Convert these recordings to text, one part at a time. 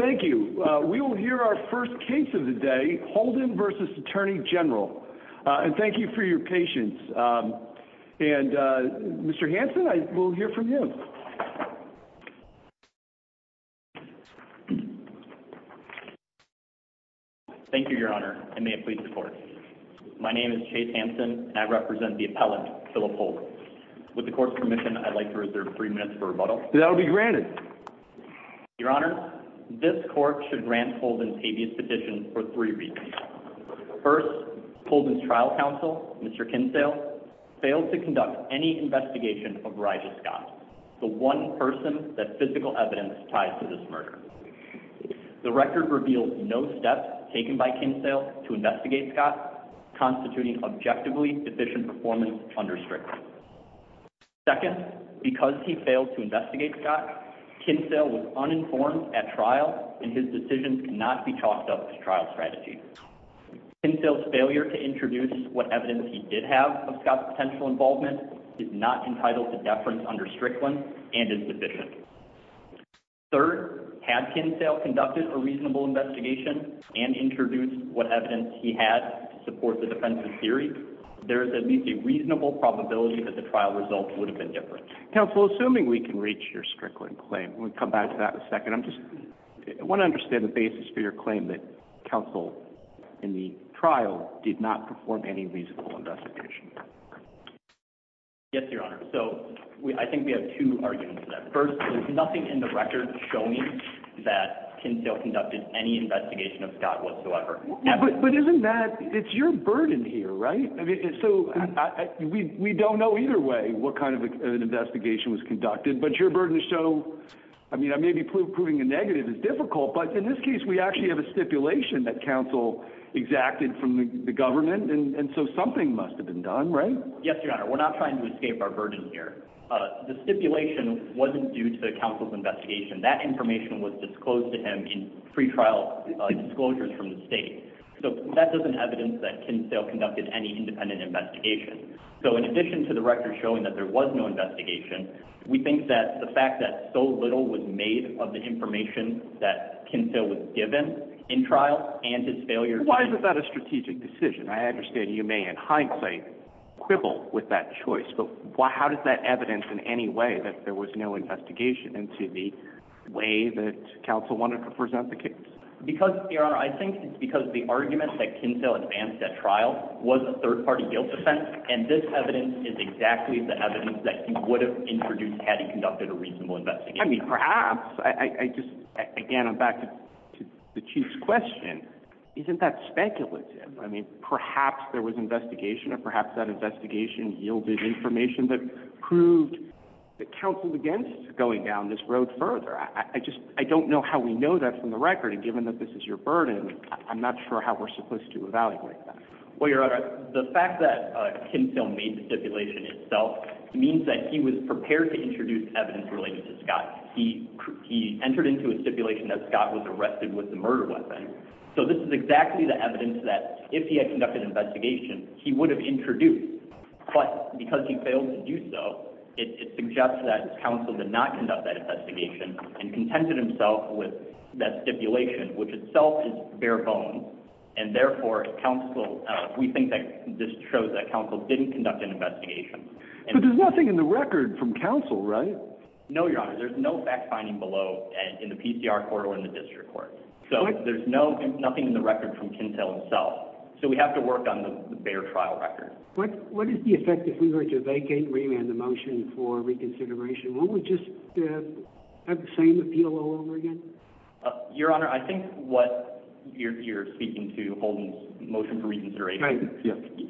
Thank you, Your Honor. I may have pleased the court. My name is Chase Hanson, and I represent the appellant, Philip Holt. With the court's permission, I'd like to reserve three minutes for rebuttal. That will be granted. Your Honor, this court should grant Holden's habeas petition for three reasons. First, Holden's trial counsel, Mr. Kinsale, failed to conduct any investigation of Regis Scott, the one person that physical evidence ties to this murder. The record reveals no steps taken by Kinsale to investigate Scott, constituting objectively deficient performance under strict Second, because he failed to investigate Scott, Kinsale was uninformed at trial, and his decisions cannot be chalked up as trial strategies. Kinsale's failure to introduce what evidence he did have of Scott's potential involvement is not entitled to deference under Strickland and is deficient. Third, had Kinsale conducted a reasonable investigation and introduced what evidence he had to support the defensive theory, there is at least a reasonable probability that the trial results would have been different. Counsel, assuming we can reach your Strickland claim, we'll come back to that in a second. I just want to understand the basis for your claim that counsel in the trial did not perform any reasonable investigation. Yes, Your Honor. So, I think we have two arguments to that. First, there's nothing in the record showing that Kinsale conducted any investigation of Scott whatsoever. But isn't that, it's your burden here, right? I mean, so, we don't know either way what kind of an investigation was conducted, but your burden is so, I mean, maybe proving a negative is difficult, but in this case, we actually have a stipulation that counsel exacted from the government, and so something must have been done, right? Yes, Your Honor. We're not trying to escape our burden here. The stipulation wasn't due to the counsel's investigation. That information was disclosed to him in pretrial disclosures from the state. So, that doesn't evidence that Kinsale conducted any independent investigation. So, in addition to the record showing that there was no investigation, we think that the fact that so little was made of the information that Kinsale was given in trial and his failure Why is that a strategic decision? I understand you may in hindsight quibble with that choice, but how does that evidence in any way that there was no investigation into the way that counsel wanted to present the case? Because, Your Honor, I think it's because the argument that Kinsale advanced at trial was a third-party guilt offense, and this evidence is exactly the evidence that he would have introduced had he conducted a reasonable investigation. I mean, perhaps. I just, again, I'm back to the Chief's question. Isn't that speculative? I mean, perhaps there was investigation, or perhaps that investigation yielded information that proved that counsel's against going down this road further. I just, I don't know how we know that from the record, and given that this is your burden, I'm not sure how we're supposed to evaluate that. Well, Your Honor, the fact that Kinsale made the stipulation itself means that he was prepared to introduce evidence related to Scott. He entered into a stipulation that Scott was arrested with a murder weapon. So, this is exactly the evidence that if he had conducted an investigation, he would have introduced. But, because he failed to do so, it suggests that counsel did not conduct that investigation and contended himself with that stipulation, which itself is bare bones, and therefore, counsel, we think that this shows that counsel didn't conduct an investigation. But there's nothing in the record from counsel, right? No, Your Honor. There's no fact-finding below in the PCR court or in the district court. So, there's nothing in the record from Kinsale himself. So, we have to work on the bare trial record. What is the effect if we were to vacate, remand the motion for reconsideration? Won't we just have the same appeal all over again? Your Honor, I think what you're speaking to, Holden's motion for reconsideration,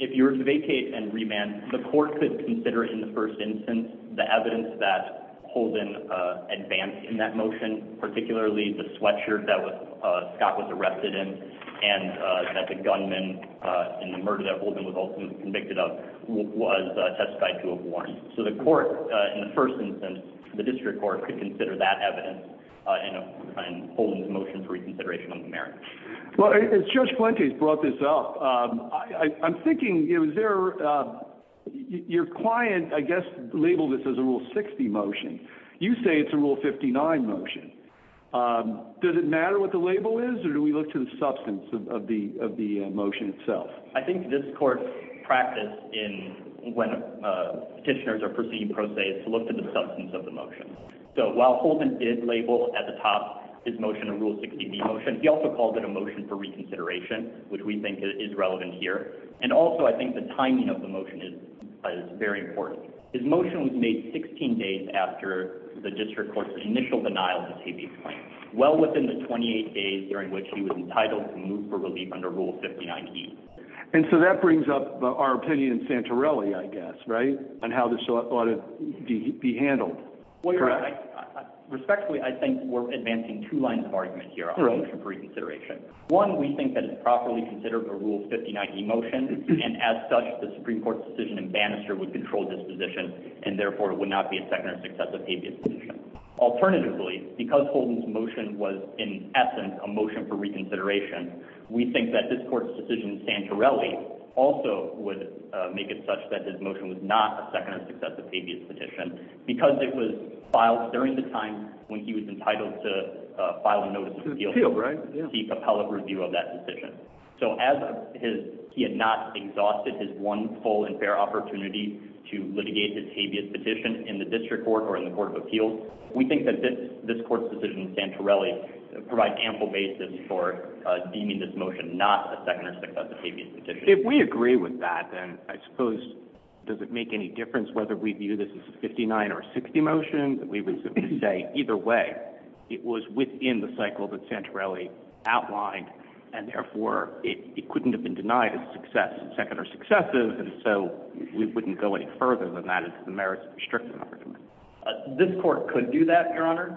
if you were to vacate and remand, the court could consider in the first instance the evidence that Holden advanced in that motion, particularly the sweatshirt that Scott was arrested in and that the gunman in the murder that Holden was ultimately convicted of was testified to a warrant. So, the court, in the first instance, the district court, could consider that evidence in Holden's motion for reconsideration of the merits. Well, as Judge Plante's brought this up, I'm thinking, is there, your client, I guess, labeled this as a Rule 60 motion. You say it's a Rule 59 motion. Does it matter what the label is, or do we look to the substance of the motion itself? I think this court's practice when petitioners are proceeding pro se is to look to the substance of the motion. So, while Holden did label at the top his motion a Rule 60 motion, he also called it a motion for reconsideration, which we think is relevant here. And also, I think the timing of the motion is very important. His motion was made 16 days after the district court's initial denial of his habeas claim, well within the 28 days during which he was entitled to move for relief under Rule 59E. And so, that brings up our opinion in Santorelli, I guess, right, on how this ought to be handled. Well, you're right. Respectfully, I think we're advancing two lines of argument here on the motion for reconsideration. One, we think that it's properly considered a Rule 59E motion, and as such, the Supreme Court's decision in Bannister would control this position and therefore would not be a second or successive habeas petition. Alternatively, because Holden's motion was, in essence, a motion for reconsideration, we think that this court's decision in Santorelli also would make it such that his motion was not a second or successive habeas petition because it was filed during the time when he was entitled to file a notice of appeal to seek appellate review of that decision. So, as he had not exhausted his one full and definitive habeas petition in the District Court or in the Court of Appeals, we think that this court's decision in Santorelli provides ample basis for deeming this motion not a second or successive habeas petition. If we agree with that, then I suppose, does it make any difference whether we view this as a 59 or a 60 motion? We would simply say, either way, it was within the cycle that Santorelli outlined, and therefore, it couldn't have been denied a second or successive, and so we wouldn't go any further than that if the merits restricted our commitment. This court could do that, Your Honor.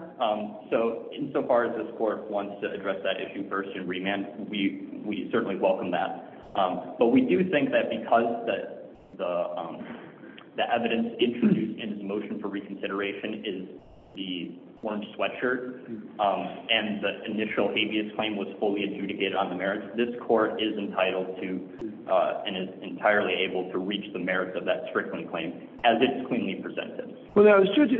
So, insofar as this court wants to address that issue first in remand, we certainly welcome that. But we do think that because the evidence introduced in his motion for reconsideration is the orange sweatshirt and the initial habeas claim was fully adjudicated on the merits, this court is entitled to and is entirely able to reach the merits of that Strickland claim as it's cleanly presented. Well, now, as Judge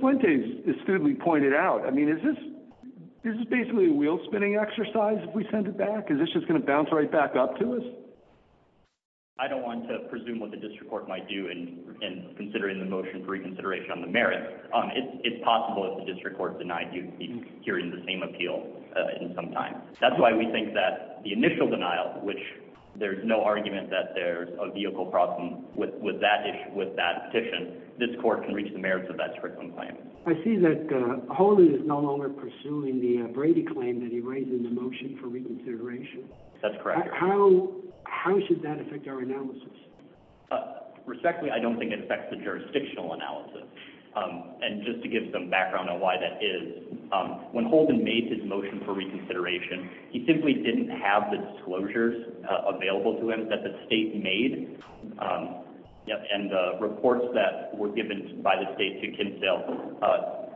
Fuentes astutely pointed out, I mean, is this basically a wheel-spinning exercise if we send it back? Is this just going to bounce right back up to us? I don't want to presume what the District Court might do in considering the motion for reconsideration on the merits. It's possible if the District Court denied, you'd be hearing the same appeal in some time. That's why we think that the initial denial, which there's no argument that there's a vehicle problem with that petition, this court can reach the merits of that Strickland claim. I see that Holden is no longer pursuing the Brady claim that he raised in the motion for reconsideration. That's correct, Your Honor. How should that affect our analysis? Respectfully, I don't think it affects the jurisdictional analysis. And just to give some background on why that is, when Holden made his motion for reconsideration, he simply didn't have the disclosures available to him that the state made. And the reports that were given by the state to Kinsale,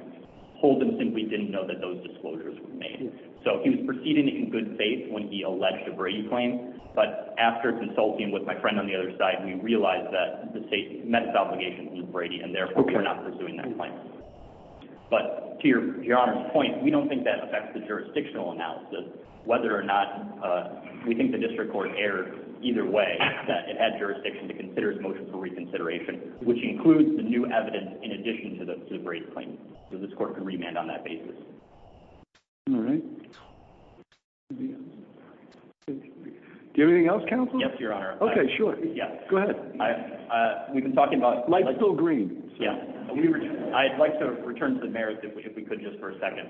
Holden simply didn't know that those disclosures were made. So he was proceeding in good faith when he alleged a Brady claim, but after consulting with my friend on the other side, we realized that the state met its obligations with Brady, and therefore, we're not pursuing that claim. But to Your Honor's point, we don't think that affects the jurisdictional analysis, whether or not we think the district court erred either way, that it had jurisdiction to consider his motion for reconsideration, which includes the new evidence in addition to the Brady claim. So this court can remand on that basis. All right. Do you have anything else, counsel? Yes, Your Honor. Okay, sure. Go ahead. We've been talking about... Light's still green. I'd like to return to the merits if we could just for a second.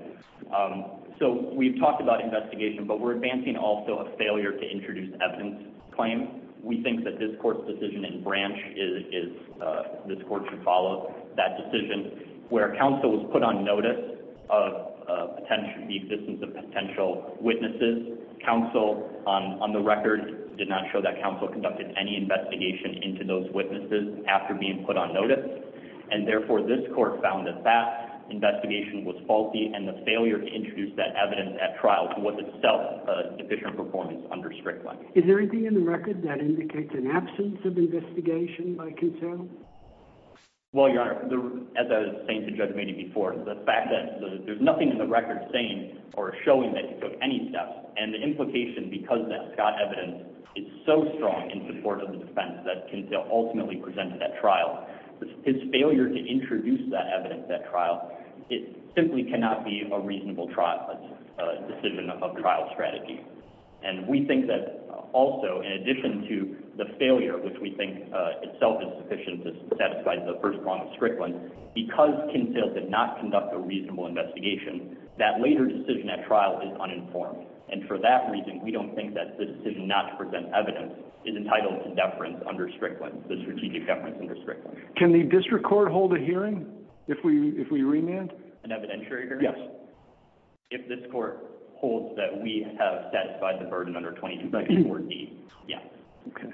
So we've talked about that investigation, but we're advancing also a failure to introduce evidence claim. We think that this court's decision in branch is... This court should follow that decision where counsel was put on notice of the existence of potential witnesses. Counsel, on the record, did not show that counsel conducted any investigation into those witnesses after being put on notice. And therefore, this court found that that investigation was faulty and the failure to introduce evidence at trial was itself a deficient performance under Strickland. Is there anything in the record that indicates an absence of investigation by Kintel? Well, Your Honor, as I was saying to Judge Brady before, the fact that there's nothing in the record saying or showing that he took any steps and the implication because that Scott evidence is so strong in support of the defense that Kintel ultimately presented that trial, his failure to introduce that evidence at trial, it simply cannot be a reasonable decision of trial strategy. And we think that also, in addition to the failure, which we think itself is sufficient to satisfy the first law of Strickland, because Kintel did not conduct a reasonable investigation, that later decision at trial is uninformed. And for that reason, we don't think that the decision not to present evidence is entitled to deference under Strickland, the strategic deference under Strickland. Can the district court hold a hearing if we remand? An evidentiary hearing? Yes. If this court holds that we have satisfied the burden under 2254D? Yes. Okay.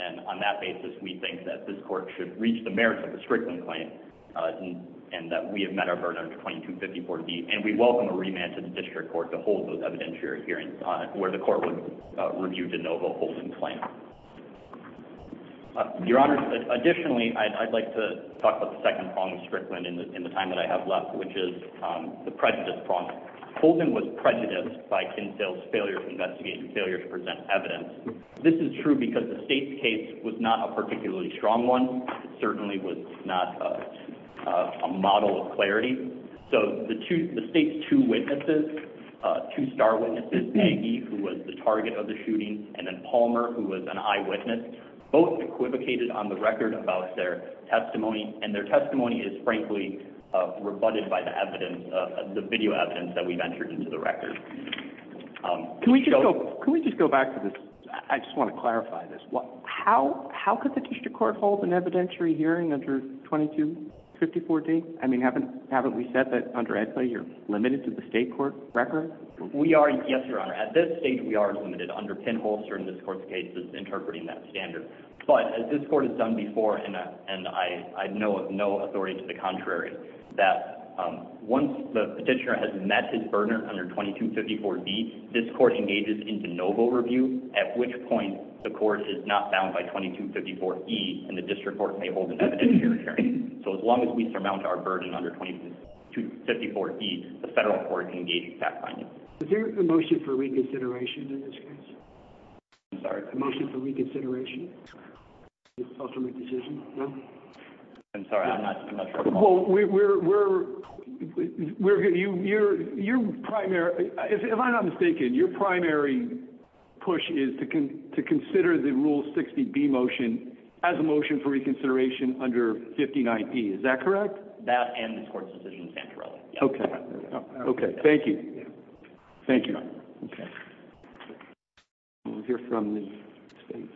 And on that basis, we think that this court should reach the merits of the Strickland claim and that we have met our burden under 2254D. And we welcome a remand to the district court to hold those evidentiary hearings where the court would review de novo holding claim. Your Honor, additionally, I'd like to talk about the second prong of Strickland in the time that I have left, which is the prejudice prong. Holden was prejudiced by Kintel's failure to investigate and failure to present evidence. This is true because the state's case was not a particularly strong one. It certainly was not a model of clarity. So the state's two witnesses, two star witnesses, Peggy, who was the target of the shooting, and then Palmer, who was an eyewitness, both equivocated on the record about their testimony. And their testimony was rebutted by the evidence, the video evidence that we've entered into the record. Can we just go back to this? I just want to clarify this. How could the district court hold an evidentiary hearing under 2254D? I mean, haven't we said that, under ECA, you're limited to the state court record? Yes, Your Honor. At this stage, we are limited. Under Pinholster in this court's case, it's interpreting that standard. But as this court has done before, and I know of no authority to the contrary, that once the petitioner has met his burden under 2254D, this court engages in de novo review, at which point the court is not bound by 2254E, and the district court may hold an evidentiary hearing. So as long as we surmount our burden under 2254E, the federal court can engage in fact-finding. Is there a motion for reconsideration in this case? I'm sorry? A motion for reconsideration? To ultimately make a decision? No? I'm sorry, I'm not sure. Well, we're... You're primary... If I'm not mistaken, your primary push is to consider the Rule 60B motion as a motion for reconsideration under 59E. Is that correct? That and this court's decision in Santorelli. Okay. Okay. Thank you. Thank you. We'll hear from the state...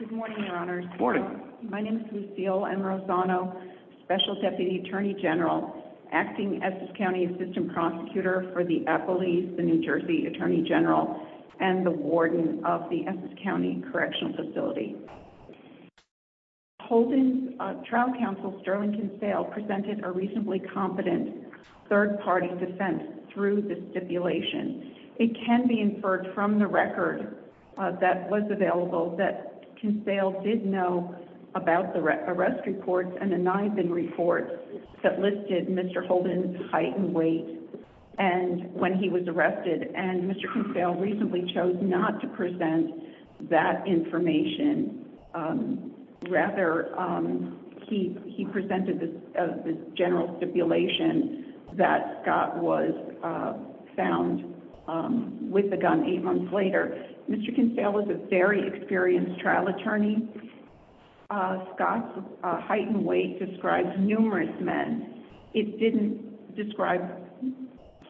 Good morning, Your Honors. Good morning. My name is Lucille M. Rossano, Special Deputy Attorney General, acting Essex County Assistant Prosecutor for the Appellees, the New Jersey Attorney General, and the Warden of the Essex County Correctional Facility. Holden's trial counsel, Sterling Cansell, presented a reasonably competent third-party defense through the stipulation. It can be inferred from the record that was available that Cansell did know about the arrest reports and the ninth-in reports that listed Mr. Holden's height and weight when he was arrested, and Mr. Cansell reasonably chose not to present that information. Rather, he presented the general stipulation that Scott was found with a gun eight months later. Mr. Cansell was a very experienced trial attorney. Scott's height and weight described numerous men. It didn't describe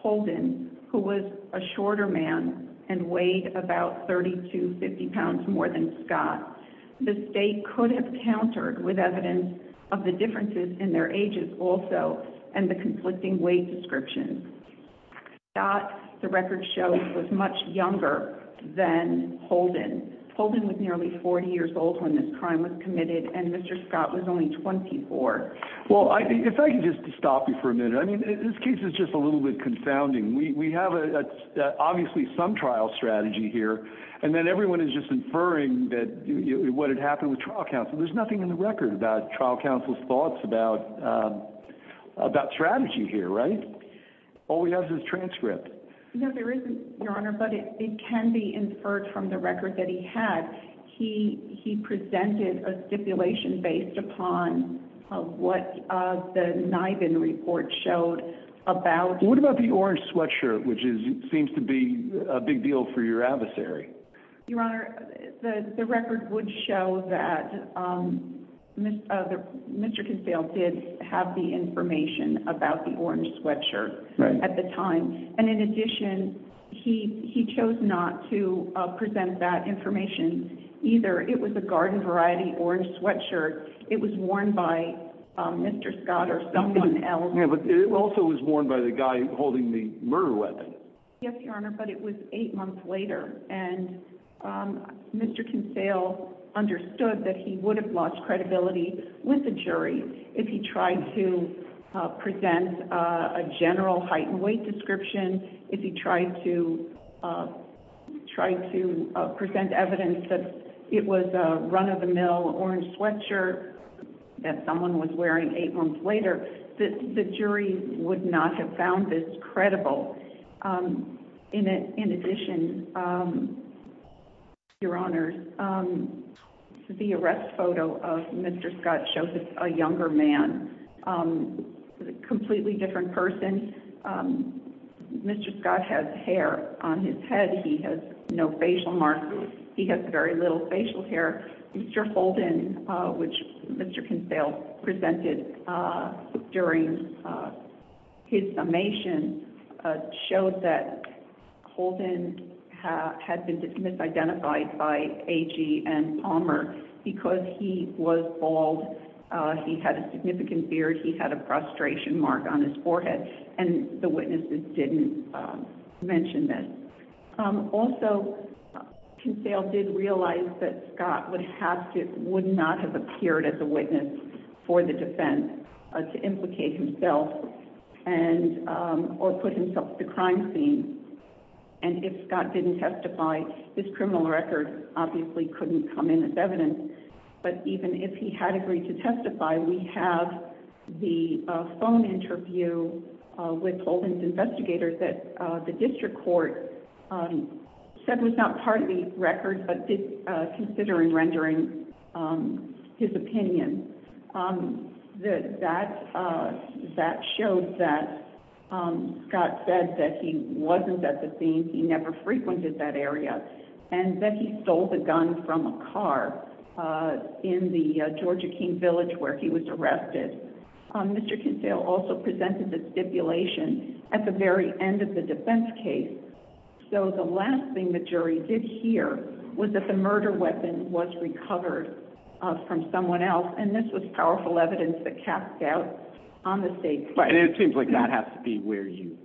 Holden, who was a shorter man and weighed about 30 to 50 pounds more than Scott. The state could have countered with evidence of the differences in their ages also and the conflicting weight descriptions. Scott, the record shows, was much younger than Holden. Holden was nearly 40 years old when this crime was committed, and Mr. Scott was only 24. Well, if I could just stop you for a minute. I mean, this case is just a little bit confounding. We have obviously some trial strategy here, and then everyone is just inferring what had happened with trial counsel. There's nothing in the record about trial counsel's thoughts about strategy here, right? All we have is this transcript. No, there isn't, Your Honor, but it can be inferred from the record that he had. He presented a stipulation based upon what the Niven report showed about— What about the orange sweatshirt, which seems to be a big deal for your adversary? Your Honor, the record would show that Mr. Cansell did have the information about the orange sweatshirt at the time. And in addition, he chose not to present that information. Either it was a garden-variety orange sweatshirt, it was worn by Mr. Scott or someone else— Yeah, but it also was worn by the guy holding the murder weapon. Yes, Your Honor, but it was eight months later, and Mr. Cansell understood that he would have tried to present evidence that it was a run-of-the-mill orange sweatshirt that someone was wearing eight months later. The jury would not have found this credible. In addition, Your Honor, the arrest photo of Mr. Scott shows a younger man, a completely different person. Mr. Scott has hair on his head. He has no facial marks. He has very little facial hair. Mr. Holden, which Mr. Cansell presented during his summation, showed that Holden had been misidentified by A.G. and Palmer because he was bald, he had a significant beard, he had a frustration mark on his forehead, and the witnesses didn't mention this. Also, Cansell did realize that Scott would not have appeared as a witness for the defense to implicate himself or put himself at the crime scene, and if Scott didn't testify, his criminal record obviously couldn't come in as evidence, but even if he had agreed to testify, we have the phone interview with Holden's investigators that the district court said was not part of the record but did consider in rendering his opinion. That showed that Scott said that he wasn't at the scene, he never frequented that area, and that he stole the gun from a car in the Georgia King Village where he was arrested. Mr. Cansell also presented a stipulation at the very end of the defense case, so the last thing the jury did hear was that the murder weapon was recovered from someone else, and this was powerful evidence that cast doubt on the state's case. It seems like that has to be where you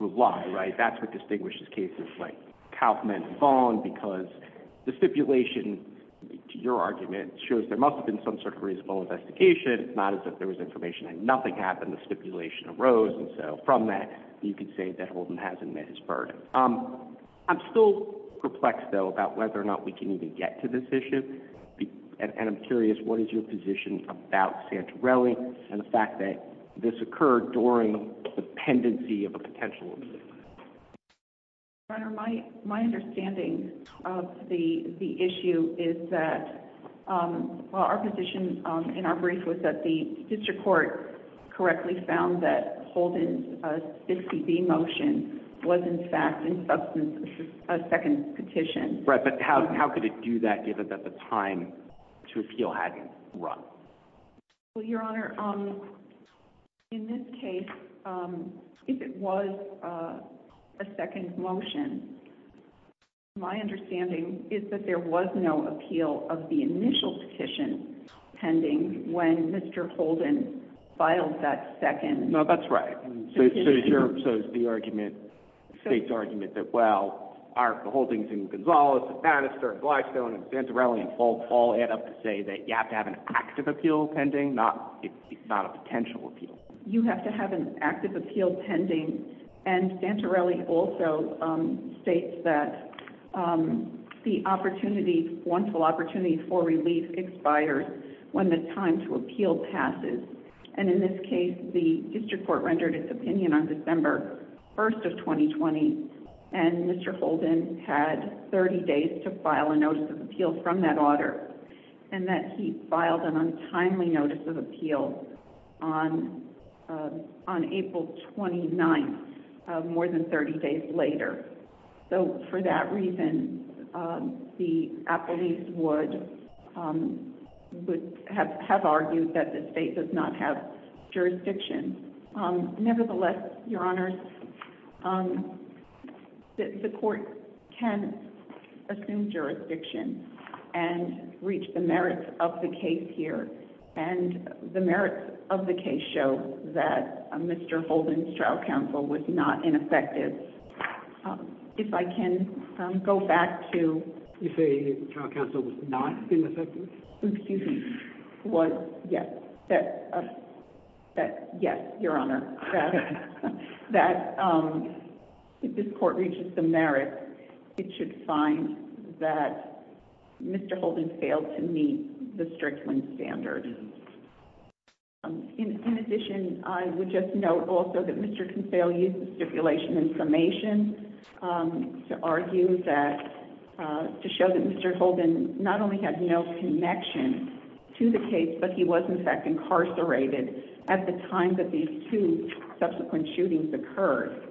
rely, right? That's what distinguishes cases like Kaufman and Vaughn, because the stipulation, to your argument, shows there must have been some sort of reasonable investigation, it's not as if there was information and nothing happened, the stipulation arose, and so from that, you could say that Holden hasn't met his burden. I'm still perplexed, though, about whether or not we can even get to this issue, and I'm curious, what is your position about Santorelli and the fact that this occurred during the pendency of a potential abuse? Your Honor, my understanding of the issue is that our position in our brief was that the district court correctly found that Holden's 60B motion was, in fact, in substance of a second petition. Right, but how could it do that given that the time to appeal hadn't run? Well, Your Honor, in this case, if it was a second motion, my understanding is that there was no appeal of the initial petition pending when Mr. Holden filed that second petition. No, that's right. So is the argument, the state's argument, that, well, the Holdings and Gonzalez and Bannister and Glystone and Santorelli and Faulk all add up to say that you have to have an active appeal pending, not a potential appeal? You have to have an active appeal pending, and Santorelli also states that the opportunity, wonderful opportunity for relief, expires when the time to appeal passes, and in this case, the district court rendered its opinion on December 1st of 2020, and Mr. Holden had 30 days to file a notice of appeal from that order, and that he filed an untimely notice of appeal on April 29th, more than 30 days later. So for that reason, the appellees would have argued that the state does not have jurisdiction. Nevertheless, Your Honors, the court can assume jurisdiction and reach the merits of the case here, and the merits of the case show that Mr. Holden's trial counsel was not ineffective. If I can go back to... You say the trial counsel was not ineffective? Excuse me. Was, yes. That, yes, Your Honor, that if this court reaches the merits, it should find that Mr. In addition, I would just note also that Mr. Consail used the stipulation in summation to argue that... to show that Mr. Holden not only had no connection to the case, but he was in fact incarcerated at the time that these two subsequent shootings occurred.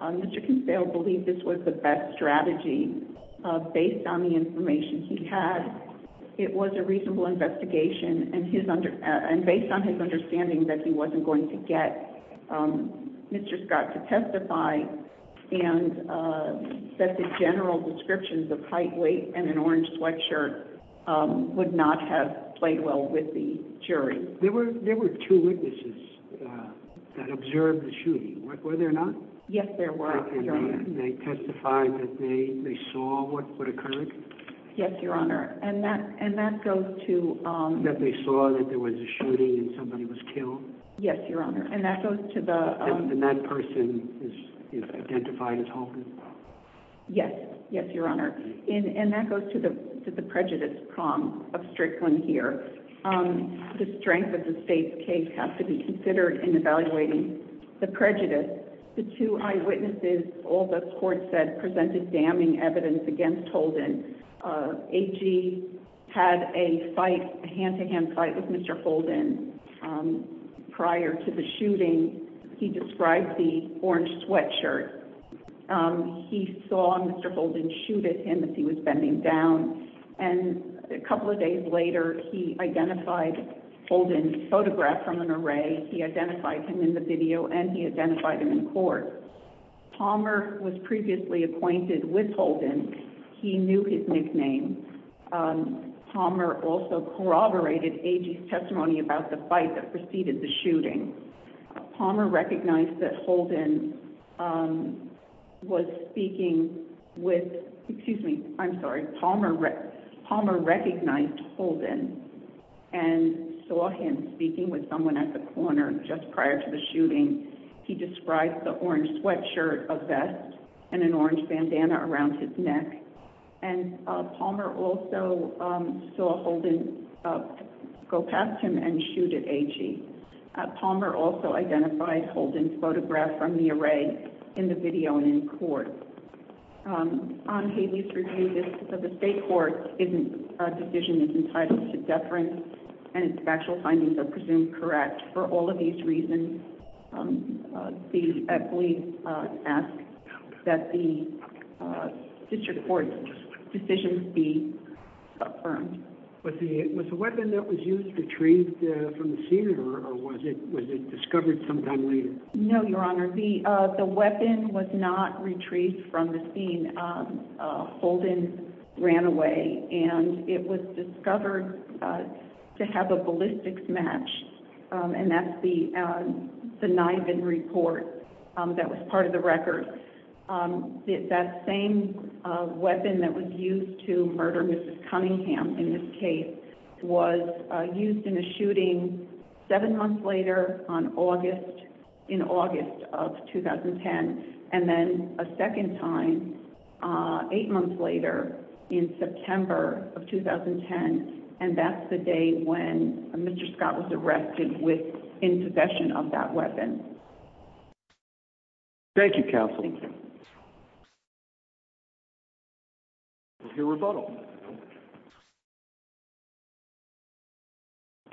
Mr. Consail believed this was the best strategy based on the information he had. It was a reasonable investigation, and based on his understanding that he wasn't going to get Mr. Scott to testify, and that the general descriptions of height, weight, and an orange sweatshirt would not have played well with the jury. There were two witnesses that observed the shooting, were there not? Yes, there were, Your Honor. And they testified that they saw what occurred? Yes, Your Honor. And that goes to... That they saw that there was a shooting and somebody was killed? Yes, Your Honor. And that goes to the... And that person is identified as Holden? Yes. Yes, Your Honor. And that goes to the prejudice problem of Strickland here. The strength of the state's case has to be considered in evaluating the prejudice. The two eyewitnesses, all the court said, presented damning evidence against Holden. AG had a fight, a hand-to-hand fight with Mr. Holden prior to the shooting. He described the orange sweatshirt. He saw Mr. Holden shoot at him as he was bending down, and a couple of days later, he identified him in the video and he identified him in court. Palmer was previously acquainted with Holden. He knew his nickname. Palmer also corroborated AG's testimony about the fight that preceded the shooting. Palmer recognized that Holden was speaking with... Excuse me, I'm sorry. Palmer recognized Holden and saw him speaking with someone at the corner just prior to the shooting. He described the orange sweatshirt, a vest, and an orange bandana around his neck. And Palmer also saw Holden go past him and shoot at AG. Palmer also identified Holden's photograph from the array in the video and in court. On Haley's review, the state court's decision is entitled to deference, and its factual findings are presumed correct. For all of these reasons, please ask that the district court's decision be affirmed. Was the weapon that was used retrieved from the scene, or was it discovered sometime later? No, Your Honor. The weapon was not retrieved from the scene. Holden ran away, and it was discovered to have a ballistics match, and that's the Niven report that was part of the record. That same weapon that was used to murder Mrs. Cunningham in this case was used in a shooting seven months later in August of 2010, and then a second time eight months later in September of 2010, and that's the day when Mr. Scott was arrested in possession of that weapon. Thank you, counsel. Thank you. We'll hear rebuttal.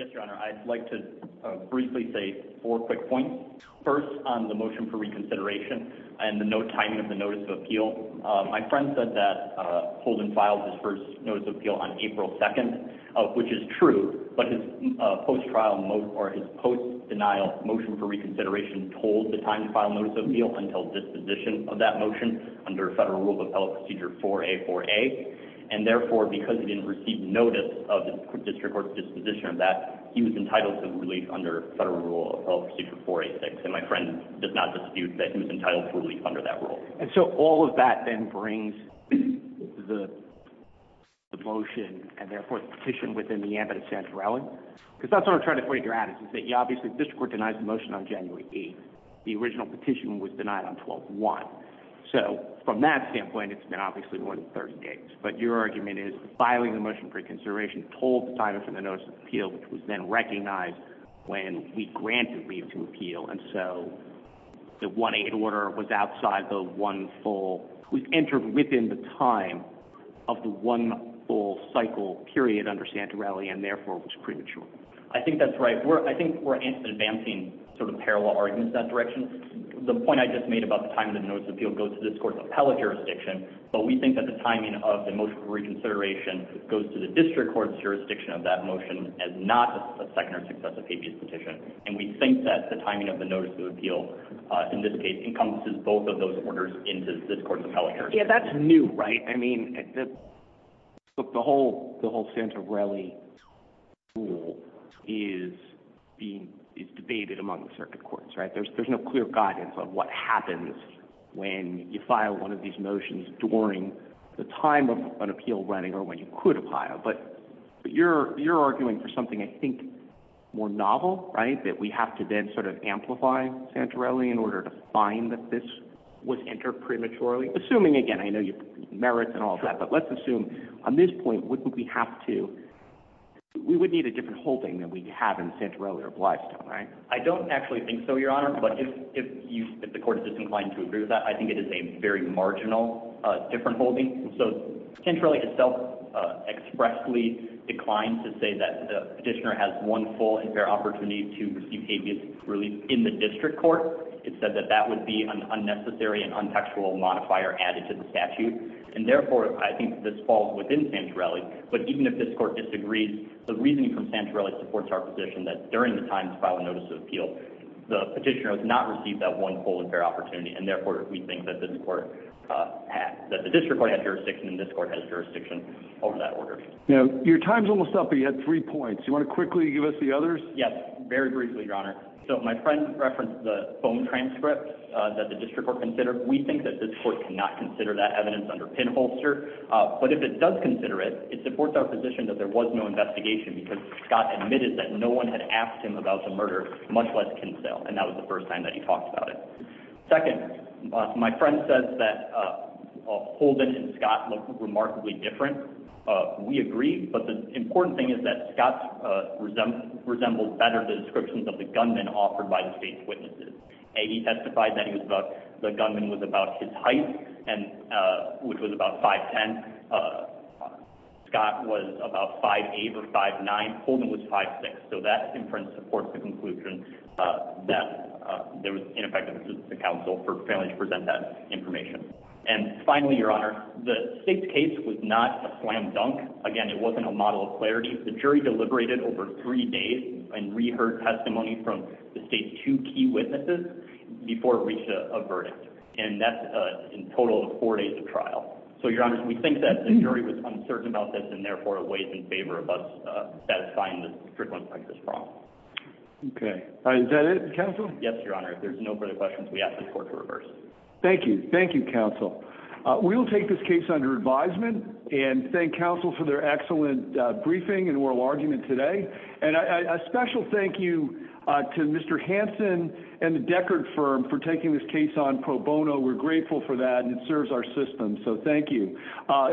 Yes, Your Honor. I'd like to briefly say four quick points. First, on the motion for reconsideration and the timing of the notice of appeal, my friend said that Holden filed his first notice of appeal on April 2nd, which is true, but his post-denial motion for reconsideration told the time to file notice of appeal until disposition of that motion under Federal Rule of Appellate Procedure 4A4A, and therefore, because he didn't receive notice of the district court's disposition of that, he was entitled to relief under Federal Rule of Appellate Procedure 4A6, and my friend does not dispute that he was entitled to relief under that rule. And so all of that then brings the motion, and therefore the petition, within the ambit of Santorelli, because that's what I'm trying to figure out, is that obviously the district court denies the motion on January 8th. The original petition was denied on 12-1, so from that standpoint, it's been obviously more than 30 days. But your argument is filing the motion for reconsideration told the timing for the notice of appeal, which was then recognized when we granted leave to appeal, and so the 1-8 order was outside the one full – was entered within the time of the one full cycle period under Santorelli, and therefore was premature. I think that's right. I think we're advancing sort of parallel arguments in that direction. The point I just made about the timing of the notice of appeal goes to this court's appellate jurisdiction, but we think that the timing of the motion for reconsideration goes to the district court's jurisdiction of that motion as not a second or successive habeas petition, and we think that the timing of the notice of appeal, in this case, encompasses both of those orders into this court's appellate jurisdiction. Yeah, that's new, right? I mean, the whole Santorelli rule is debated among the circuit courts, right? There's no clear guidance on what happens when you file one of these motions during the time of an appeal running or when you could file, but you're arguing for something, I think, more novel, right, that we have to then sort of amplify Santorelli in order to find that this was entered prematurely, assuming, again, I know you – merits and all that, but let's assume on this point, wouldn't we have to – we would need a different holding than we have in Santorelli or Blystone, right? I don't actually think so, Your Honor, but if the court is just inclined to agree with that, I think it is a very marginal different holding. So Santorelli itself expressly declined to say that the petitioner has one full and fair opportunity to receive habeas relief in the district court. It said that that would be an unnecessary and untaxable modifier added to the statute, and therefore I think this falls within Santorelli. But even if this court disagrees, the reasoning from Santorelli supports our position that during the time to file a notice of appeal, the petitioner has not received that one full and fair opportunity, and therefore we think that this court – that the district court has jurisdiction and this court has jurisdiction over that order. Now, your time's almost up, but you had three points. Do you want to quickly give us the others? Yes, very briefly, Your Honor. So my friend referenced the phone transcript that the district court considered. We think that this court cannot consider that evidence under pinholster, but if it does consider it, it supports our position that there was no investigation because Scott admitted that no one had asked him about the murder, much less Kinsale, and that was the first time that he talked about it. Second, my friend says that Holden and Scott look remarkably different. We agree, but the important thing is that Scott resembles better the descriptions of the gunman offered by the state's witnesses. He testified that the gunman was about his height, which was about 5'10". Scott was about 5'8 or 5'9". Holden was 5'6". So that inference supports the conclusion that there was ineffective assistance to counsel for failing to present that information. And finally, Your Honor, the state's case was not a slam dunk. Again, it wasn't a model of clarity. The jury deliberated over three days and reheard testimony from the state's two key witnesses So, Your Honor, we think that the jury was uncertain about this and, therefore, it weighs in favor of us satisfying the strict ones like this problem. Okay. Is that it, counsel? Yes, Your Honor. If there's no further questions, we ask the court to reverse. Thank you. Thank you, counsel. We will take this case under advisement and thank counsel for their excellent briefing and oral argument today. And a special thank you to Mr. Hanson and the Deckard firm for taking this case on pro bono. We're grateful for that and it serves our system, so thank you.